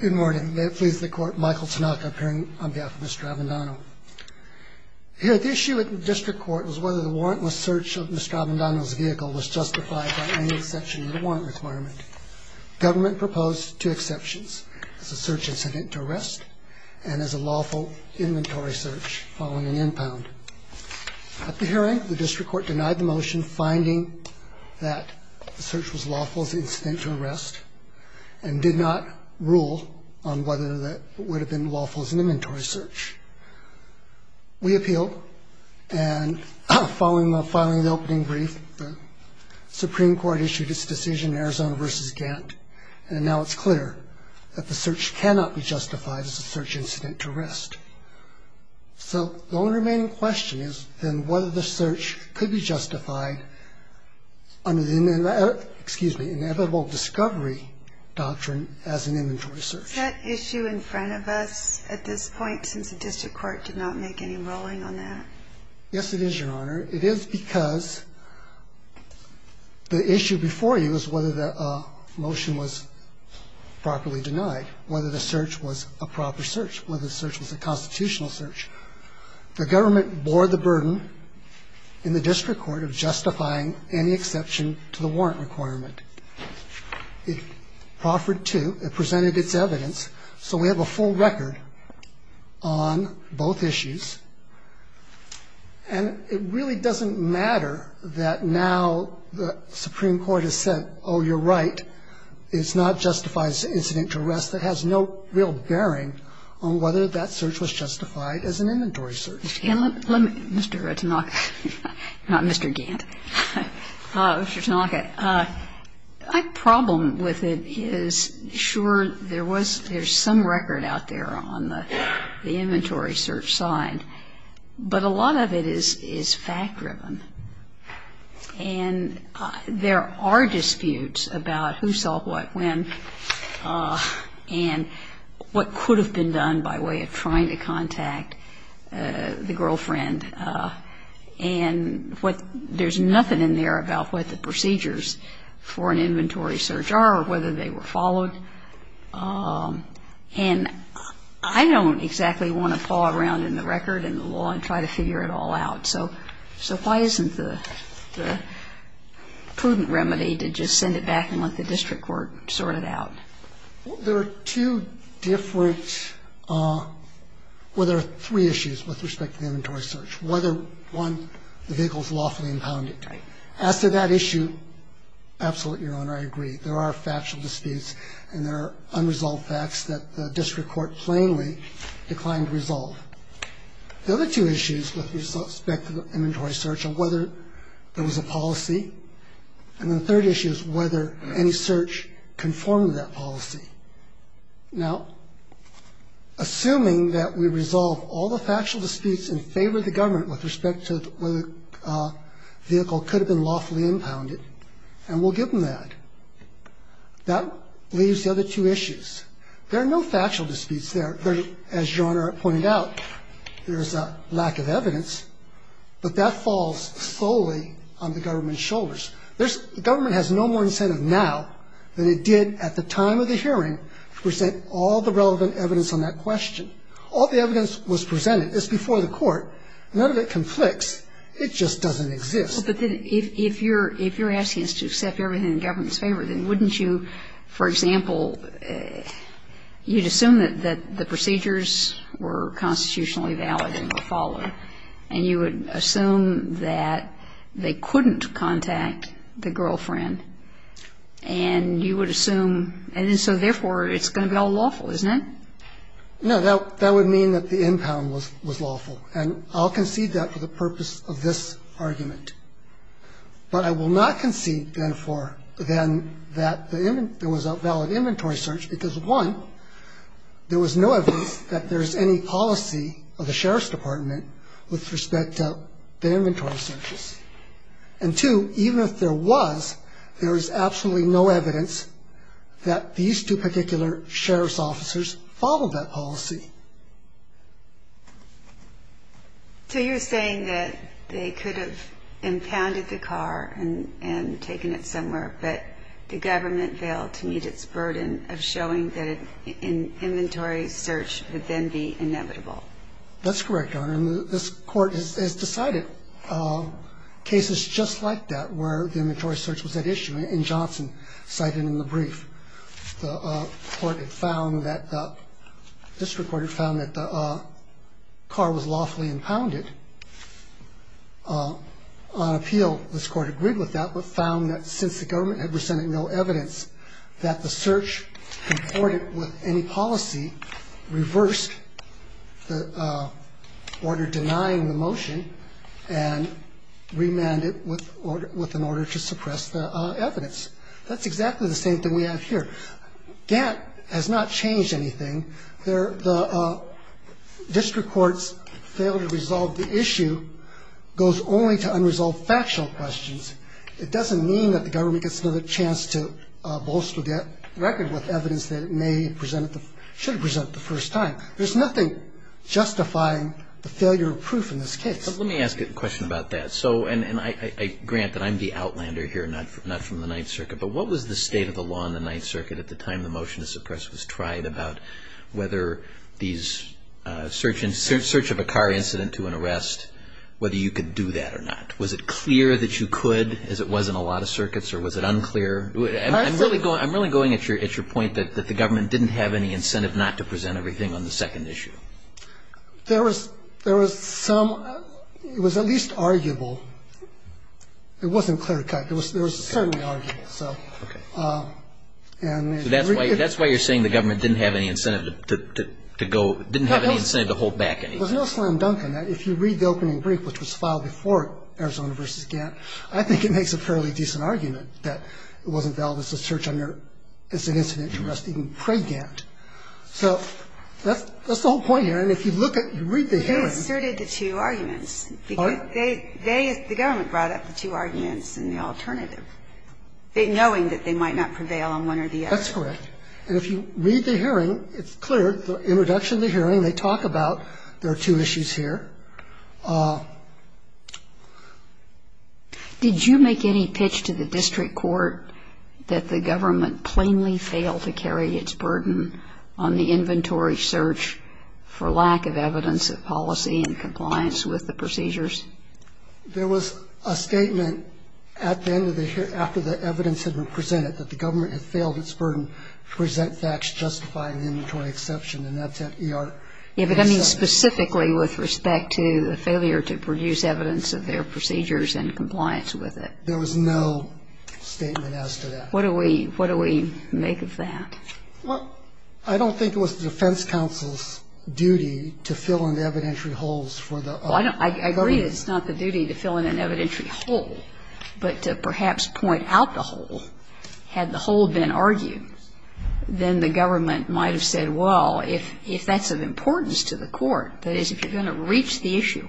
Good morning. May it please the Court, Michael Tanaka appearing on behalf of Mr. Avendano. Here, the issue at the District Court was whether the warrantless search of Mr. Avendano's vehicle was justified by any exception to the warrant requirement. Government proposed two exceptions, as a search incident to arrest and as a lawful inventory search following an impound. At the hearing, the District Court denied the motion finding that the search was lawful as an incident to arrest and did not rule on whether that would have been lawful as an inventory search. We appealed, and following the filing of the opening brief, the Supreme Court issued its decision in Arizona v. Gantt, and now it's clear that the search cannot be justified as a search incident to arrest. So the only remaining question is then whether the search could be justified under the inevitable discovery doctrine as an inventory search. Is that issue in front of us at this point, since the District Court did not make any ruling on that? Yes, it is, Your Honor. It is because the issue before you is whether the motion was properly denied, whether the search was a proper search, whether the search was a constitutional search. The government bore the burden in the District Court of justifying any exception to the warrant requirement. It proffered to. It presented its evidence. So we have a full record on both issues. And it really doesn't matter that now the Supreme Court has said, oh, you're right, it's not justified as an incident to arrest. It has no real bearing on whether that search was justified as an inventory search. Mr. Tanaka, not Mr. Gantt. Mr. Tanaka, my problem with it is, sure, there was some record out there on the inventory search side, but a lot of it is fact-driven. And there are disputes about who saw what when and what could have been done by way of trying to contact the girlfriend. And there's nothing in there about what the procedures for an inventory search are or whether they were followed. And I don't exactly want to paw around in the record and the law and try to figure it all out. So why isn't the prudent remedy to just send it back and let the district court sort it out? There are two different or there are three issues with respect to inventory search. One, the vehicle is lawfully impounded. As to that issue, absolutely, Your Honor, I agree. There are factual disputes and there are unresolved facts that the district court plainly declined to resolve. The other two issues with respect to inventory search are whether there was a policy. And the third issue is whether any search conformed to that policy. Now, assuming that we resolve all the factual disputes in favor of the government with respect to whether the vehicle could have been lawfully impounded, and we'll give them that, that leaves the other two issues. There are no factual disputes there. As Your Honor pointed out, there is a lack of evidence. But that falls solely on the government's shoulders. There's the government has no more incentive now than it did at the time of the hearing to present all the relevant evidence on that question. All the evidence was presented. It's before the court. None of it conflicts. It just doesn't exist. But then if you're asking us to accept everything in government's favor, then wouldn't you, for example, you'd assume that the procedures were constitutionally valid and would follow, and you would assume that they couldn't contact the girlfriend, and you would assume, and so therefore it's going to be all lawful, isn't it? No. That would mean that the impound was lawful. And I'll concede that for the purpose of this argument. But I will not concede, therefore, then that there was a valid inventory search because, one, there was no evidence that there is any policy of the sheriff's department with respect to the inventory searches. And, two, even if there was, there is absolutely no evidence that these two particular sheriff's officers followed that policy. So you're saying that they could have impounded the car and taken it somewhere, but the government failed to meet its burden of showing that an inventory search would then be inevitable. That's correct, Your Honor. And this Court has decided cases just like that where the inventory search was at issue, in Johnson, cited in the brief. The court had found that the district court had found that the car was lawfully impounded. On appeal, this Court agreed with that, but found that since the government had presented no evidence, that the search reported with any policy reversed the order denying the motion and remanded it with an order to suppress the evidence. That's exactly the same thing we have here. That has not changed anything. The district court's failure to resolve the issue goes only to unresolved factual questions. It doesn't mean that the government gets another chance to bolster the record with evidence that it should have presented the first time. There's nothing justifying the failure of proof in this case. Let me ask a question about that. So, and I grant that I'm the outlander here, not from the Ninth Circuit, but what was the state of the law in the Ninth Circuit at the time the motion to suppress was tried about whether these search of a car incident to an arrest, whether you could do that or not? Was it clear that you could, as it was in a lot of circuits, or was it unclear? I'm really going at your point that the government didn't have any incentive not to present everything on the second issue. There was some, it was at least arguable. It wasn't clear cut. It was certainly arguable, so. Okay. That's why you're saying the government didn't have any incentive to go, didn't have any incentive to hold back anything. There's no slam dunk in that. If you read the opening brief, which was filed before Arizona v. Gantt, I think it makes a fairly decent argument that it wasn't valid as a search under, as an incident to arrest even pre-Gantt. So that's the whole point here. And if you look at, you read the hearing. They asserted the two arguments. Pardon? They, they, the government brought up the two arguments in the alternative, knowing that they might not prevail on one or the other. That's correct. And if you read the hearing, it's clear, the introduction of the hearing, they talk about there are two issues here. Did you make any pitch to the district court that the government plainly failed to carry its burden on the inventory search for lack of evidence of policy and compliance with the procedures? There was a statement at the end of the hearing, after the evidence had been presented, that the government had failed its burden to present facts justifying the inventory exception. And that's at ER. Yeah, but I mean specifically with respect to the failure to produce evidence of their procedures and compliance with it. There was no statement as to that. What do we, what do we make of that? Well, I don't think it was the defense counsel's duty to fill in the evidentiary holes for the other government. Well, I agree that it's not the duty to fill in an evidentiary hole, but to perhaps point out the hole. Had the hole been argued, then the government might have said, well, if that's of importance to the court, that is, if you're going to reach the issue,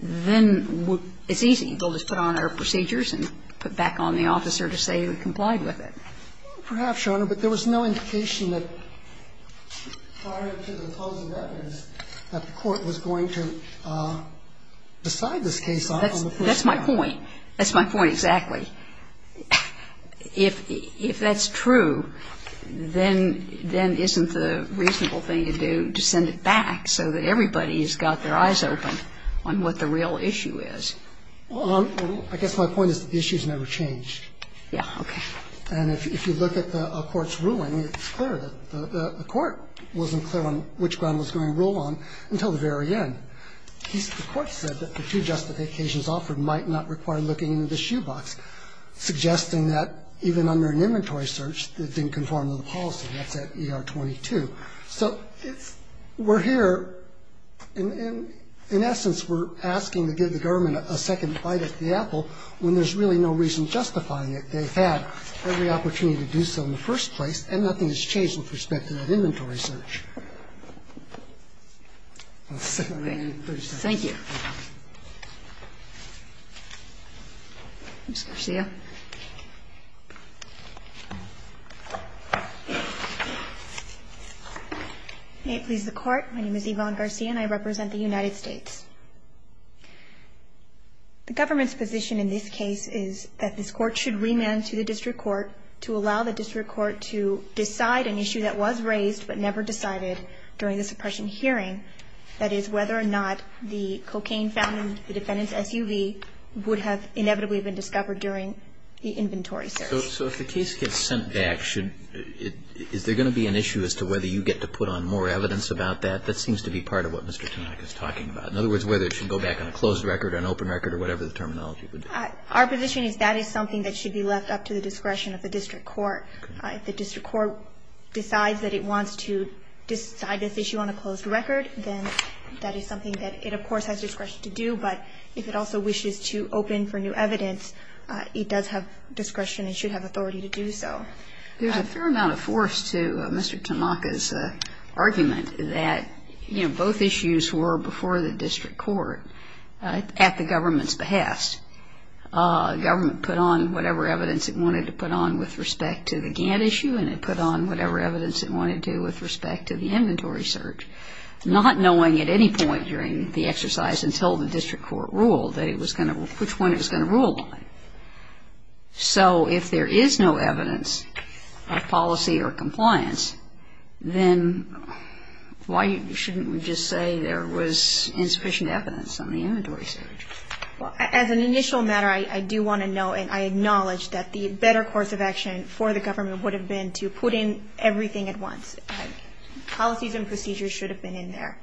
then it's easy. We'll just put on our procedures and put back on the officer to say we complied with it. Perhaps, Your Honor, but there was no indication that prior to the closing evidence that the court was going to decide this case on the first trial. That's my point. That's my point exactly. If that's true, then isn't the reasonable thing to do to send it back so that everybody has got their eyes opened on what the real issue is? Well, I guess my point is that the issue has never changed. Yeah, okay. And if you look at a court's ruling, it's clear that the court wasn't clear on which ground it was going to rule on until the very end. The court said that the two justifications offered might not require looking into the shoebox, suggesting that even under an inventory search, it didn't conform to the policy. That's at ER 22. So we're here, in essence, we're asking to give the government a second bite at the opportunity to do so in the first place, and nothing has changed with respect to that inventory search. Thank you. Ms. Garcia. May it please the Court. My name is Yvonne Garcia and I represent the United States. The government's position in this case is that this court should remand to the district court to allow the district court to decide an issue that was raised but never decided during the suppression hearing. That is, whether or not the cocaine found in the defendant's SUV would have inevitably been discovered during the inventory search. So if the case gets sent back, is there going to be an issue as to whether you get to put on more evidence about that? That seems to be part of what Mr. Tonac is talking about. In other words, whether it should go back on a closed record, an open record, or whatever the terminology would be. Our position is that is something that should be left up to the discretion of the district court. If the district court decides that it wants to decide this issue on a closed record, then that is something that it, of course, has discretion to do. But if it also wishes to open for new evidence, it does have discretion and should have authority to do so. There's a fair amount of force to Mr. Tonac's argument that, you know, both issues were before the district court at the government's behest. Government put on whatever evidence it wanted to put on with respect to the Gantt issue and it put on whatever evidence it wanted to with respect to the inventory search, not knowing at any point during the exercise until the district court ruled which one it was going to rule on. So if there is no evidence of policy or compliance, then why shouldn't we just say there was insufficient evidence on the inventory search? As an initial matter, I do want to note and I acknowledge that the better course of action for the government would have been to put in everything at once. Policies and procedures should have been in there.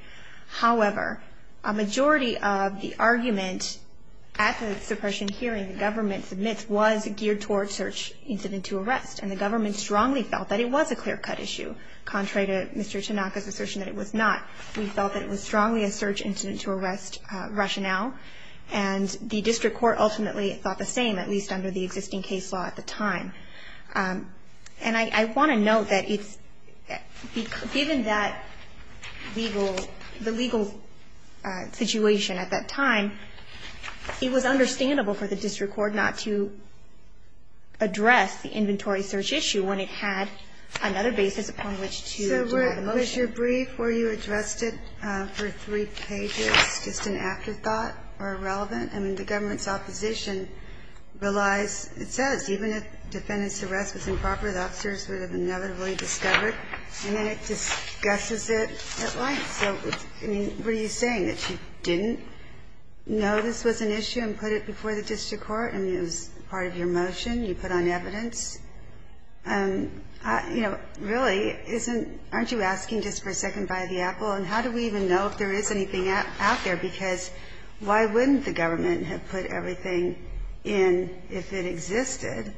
However, a majority of the argument at the suppression hearing the government submits was geared toward search incident to arrest, and the government strongly felt that it was a clear-cut issue. Contrary to Mr. Tonac's assertion that it was not. We felt that it was strongly a search incident to arrest rationale, and the district court ultimately thought the same, at least under the existing case law at the time. And I want to note that given the legal situation at that time, it was understandable for the district court not to address the inventory search issue when it had another basis upon which to draw the motion. But was your brief where you addressed it for three pages just an afterthought or irrelevant? I mean, the government's opposition relies, it says, even if defendant's arrest was improper, the officers would have inevitably discovered. And then it discusses it at length. So, I mean, what are you saying, that you didn't know this was an issue and put it before the district court? I mean, it was part of your motion. You put on evidence. You know, really, aren't you asking just for a second by the apple, and how do we even know if there is anything out there? Because why wouldn't the government have put everything in if it existed?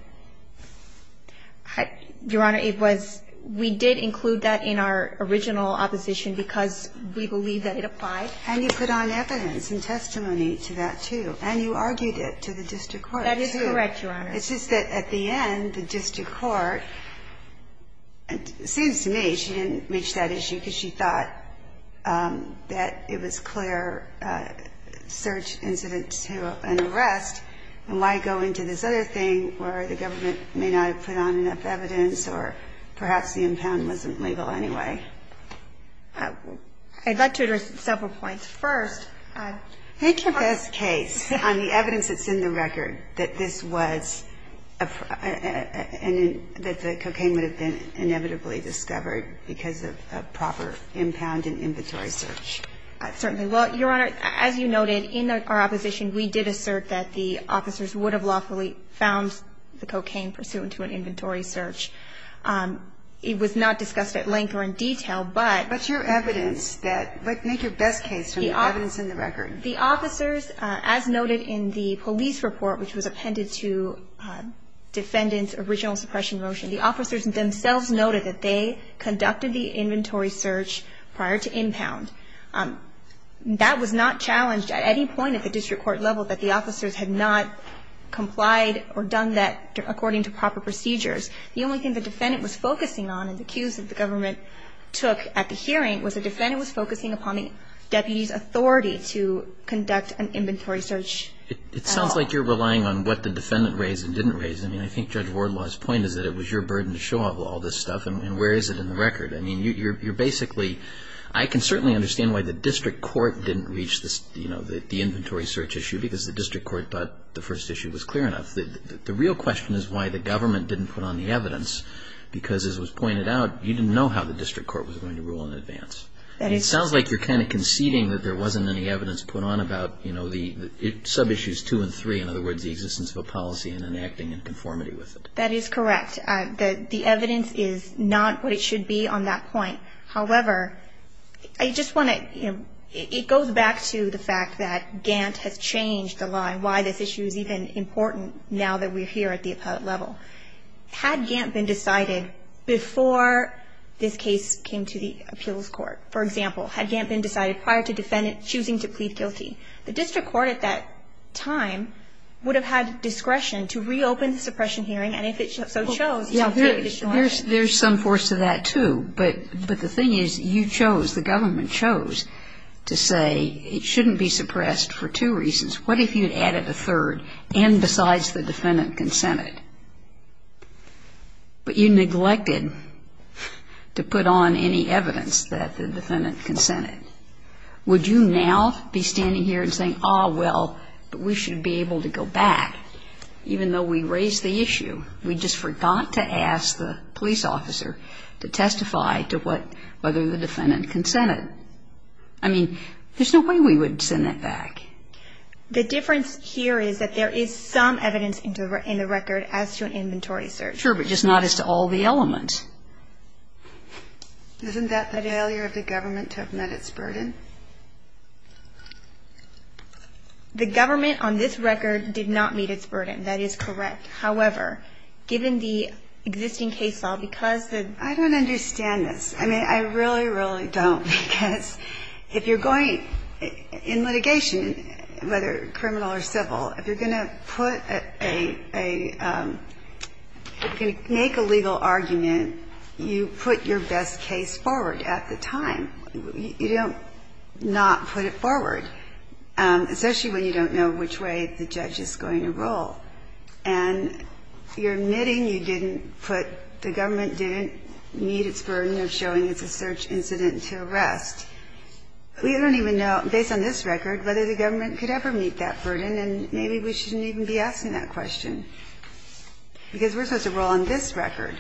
Your Honor, it was we did include that in our original opposition because we believe that it applied. And you put on evidence and testimony to that, too. And you argued it to the district court, too. That is correct, Your Honor. It's just that at the end, the district court, it seems to me she didn't reach that issue because she thought that it was clear search incident to an arrest, and why go into this other thing where the government may not have put on enough evidence or perhaps the impound wasn't legal anyway? I'd like to address several points. First. Make your best case on the evidence that's in the record that this was a, that the cocaine would have been inevitably discovered because of a proper impound and inventory search. Certainly. Well, Your Honor, as you noted, in our opposition, we did assert that the officers would have lawfully found the cocaine pursuant to an inventory search. It was not discussed at length or in detail, but. What's your evidence that, like, make your best case on the evidence in the record? The officers, as noted in the police report, which was appended to defendant's original suppression motion, the officers themselves noted that they conducted the inventory search prior to impound. That was not challenged at any point at the district court level, that the officers had not complied or done that according to proper procedures. The only thing the defendant was focusing on and the cues that the government took at the hearing was the defendant was focusing upon the deputy's authority to conduct an inventory search at all. It sounds like you're relying on what the defendant raised and didn't raise. I mean, I think Judge Wardlaw's point is that it was your burden to show all this stuff, and where is it in the record? I mean, you're basically, I can certainly understand why the district court didn't reach this, you know, the inventory search issue because the district court thought the first issue was clear enough. The real question is why the government didn't put on the evidence because, as was pointed out, you didn't know how the district court was going to rule in advance. It sounds like you're kind of conceding that there wasn't any evidence put on about, you know, the sub-issues two and three, in other words, the existence of a policy and then acting in conformity with it. That is correct. The evidence is not what it should be on that point. However, I just want to, you know, it goes back to the fact that Gantt has changed the line, why this issue is even important now that we're here at the appellate level. Had Gantt been decided before this case came to the appeals court, for example, had Gantt been decided prior to the defendant choosing to plead guilty, the district court at that time would have had discretion to reopen the suppression hearing, and if it so chose, to make a decision. There's some force to that, too. But the thing is, you chose, the government chose to say it shouldn't be suppressed for two reasons. What if you had added a third, and besides the defendant consented, but you neglected to put on any evidence that the defendant consented? Would you now be standing here and saying, oh, well, we should be able to go back, even though we raised the issue? We just forgot to ask the police officer to testify to what, whether the defendant consented. I mean, there's no way we would send that back. The difference here is that there is some evidence in the record as to an inventory search. Sure, but just not as to all the elements. Isn't that the failure of the government to have met its burden? The government on this record did not meet its burden. That is correct. However, given the existing case law, because the ---- I don't understand this. I mean, I really, really don't, because if you're going in litigation, whether criminal or civil, if you're going to put a ---- if you're going to make a legal argument, you put your best case forward at the time. You don't not put it forward, especially when you don't know which way the judge is going to roll. And you're admitting you didn't put ---- the government didn't meet its burden of showing it's a search incident to arrest. We don't even know, based on this record, whether the government could ever meet that burden. And maybe we shouldn't even be asking that question, because we're supposed to roll on this record.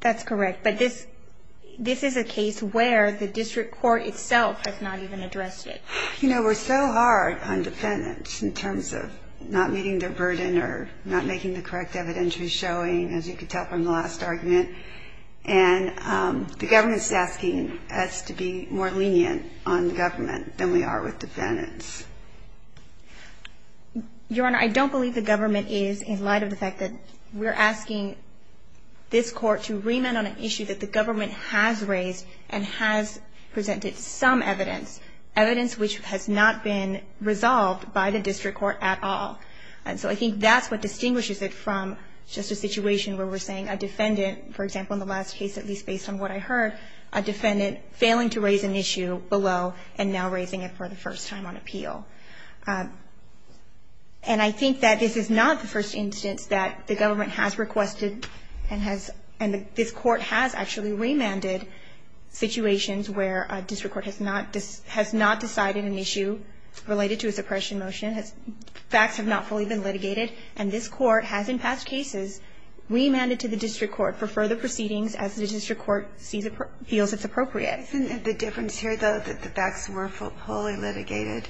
That's correct. But this is a case where the district court itself has not even addressed it. You know, we're so hard on defendants in terms of not meeting their burden or not making the correct evidentiary showing, as you could tell from the last argument. And the government is asking us to be more lenient on the government than we are with defendants. Your Honor, I don't believe the government is, in light of the fact that we're asking this Court to remit on an issue that the government has raised and has presented some evidence, evidence which has not been resolved by the district court at all. And so I think that's what distinguishes it from just a situation where we're assessing a defendant, for example, in the last case, at least based on what I heard, a defendant failing to raise an issue below and now raising it for the first time on appeal. And I think that this is not the first instance that the government has requested and has – and this Court has actually remanded situations where a district court has not decided an issue related to a suppression motion, facts have not fully been litigated, and this Court has in past cases remanded to the district court for further proceedings as the district court feels it's appropriate. Isn't it the difference here, though, that the facts were fully litigated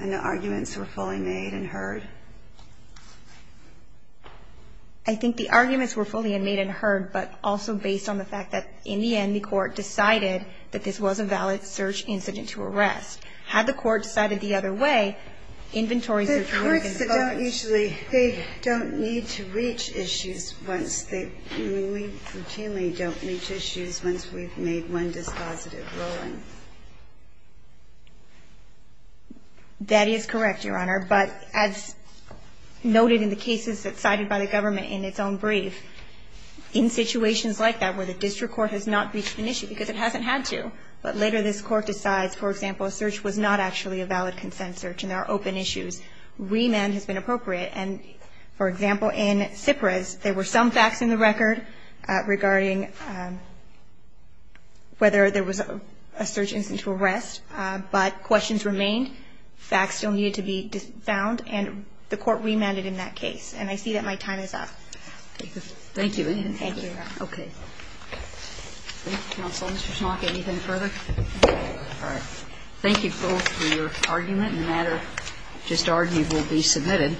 and the arguments were fully made and heard? I think the arguments were fully made and heard, but also based on the fact that in the end the Court decided that this was a valid search incident to arrest. Had the Court decided the other way, inventories would have been going to the courts. The courts don't usually – they don't need to reach issues once they – we routinely don't reach issues once we've made one dispositive ruling. That is correct, Your Honor. But as noted in the cases that cited by the government in its own brief, in situations like that where the district court has not reached an issue because it hasn't had to, but later this Court decides, for example, a search was not actually a valid consent search and there are open issues, remand has been appropriate. And, for example, in Tsipras, there were some facts in the record regarding whether there was a search incident to arrest, but questions remained, facts still needed to be found, and the Court remanded in that case. And I see that my time is up. Thank you. Thank you. Okay. Thank you, counsel. Mr. Schlock, anything further? No. All right. Thank you both for your argument. And the matter just argued will be submitted.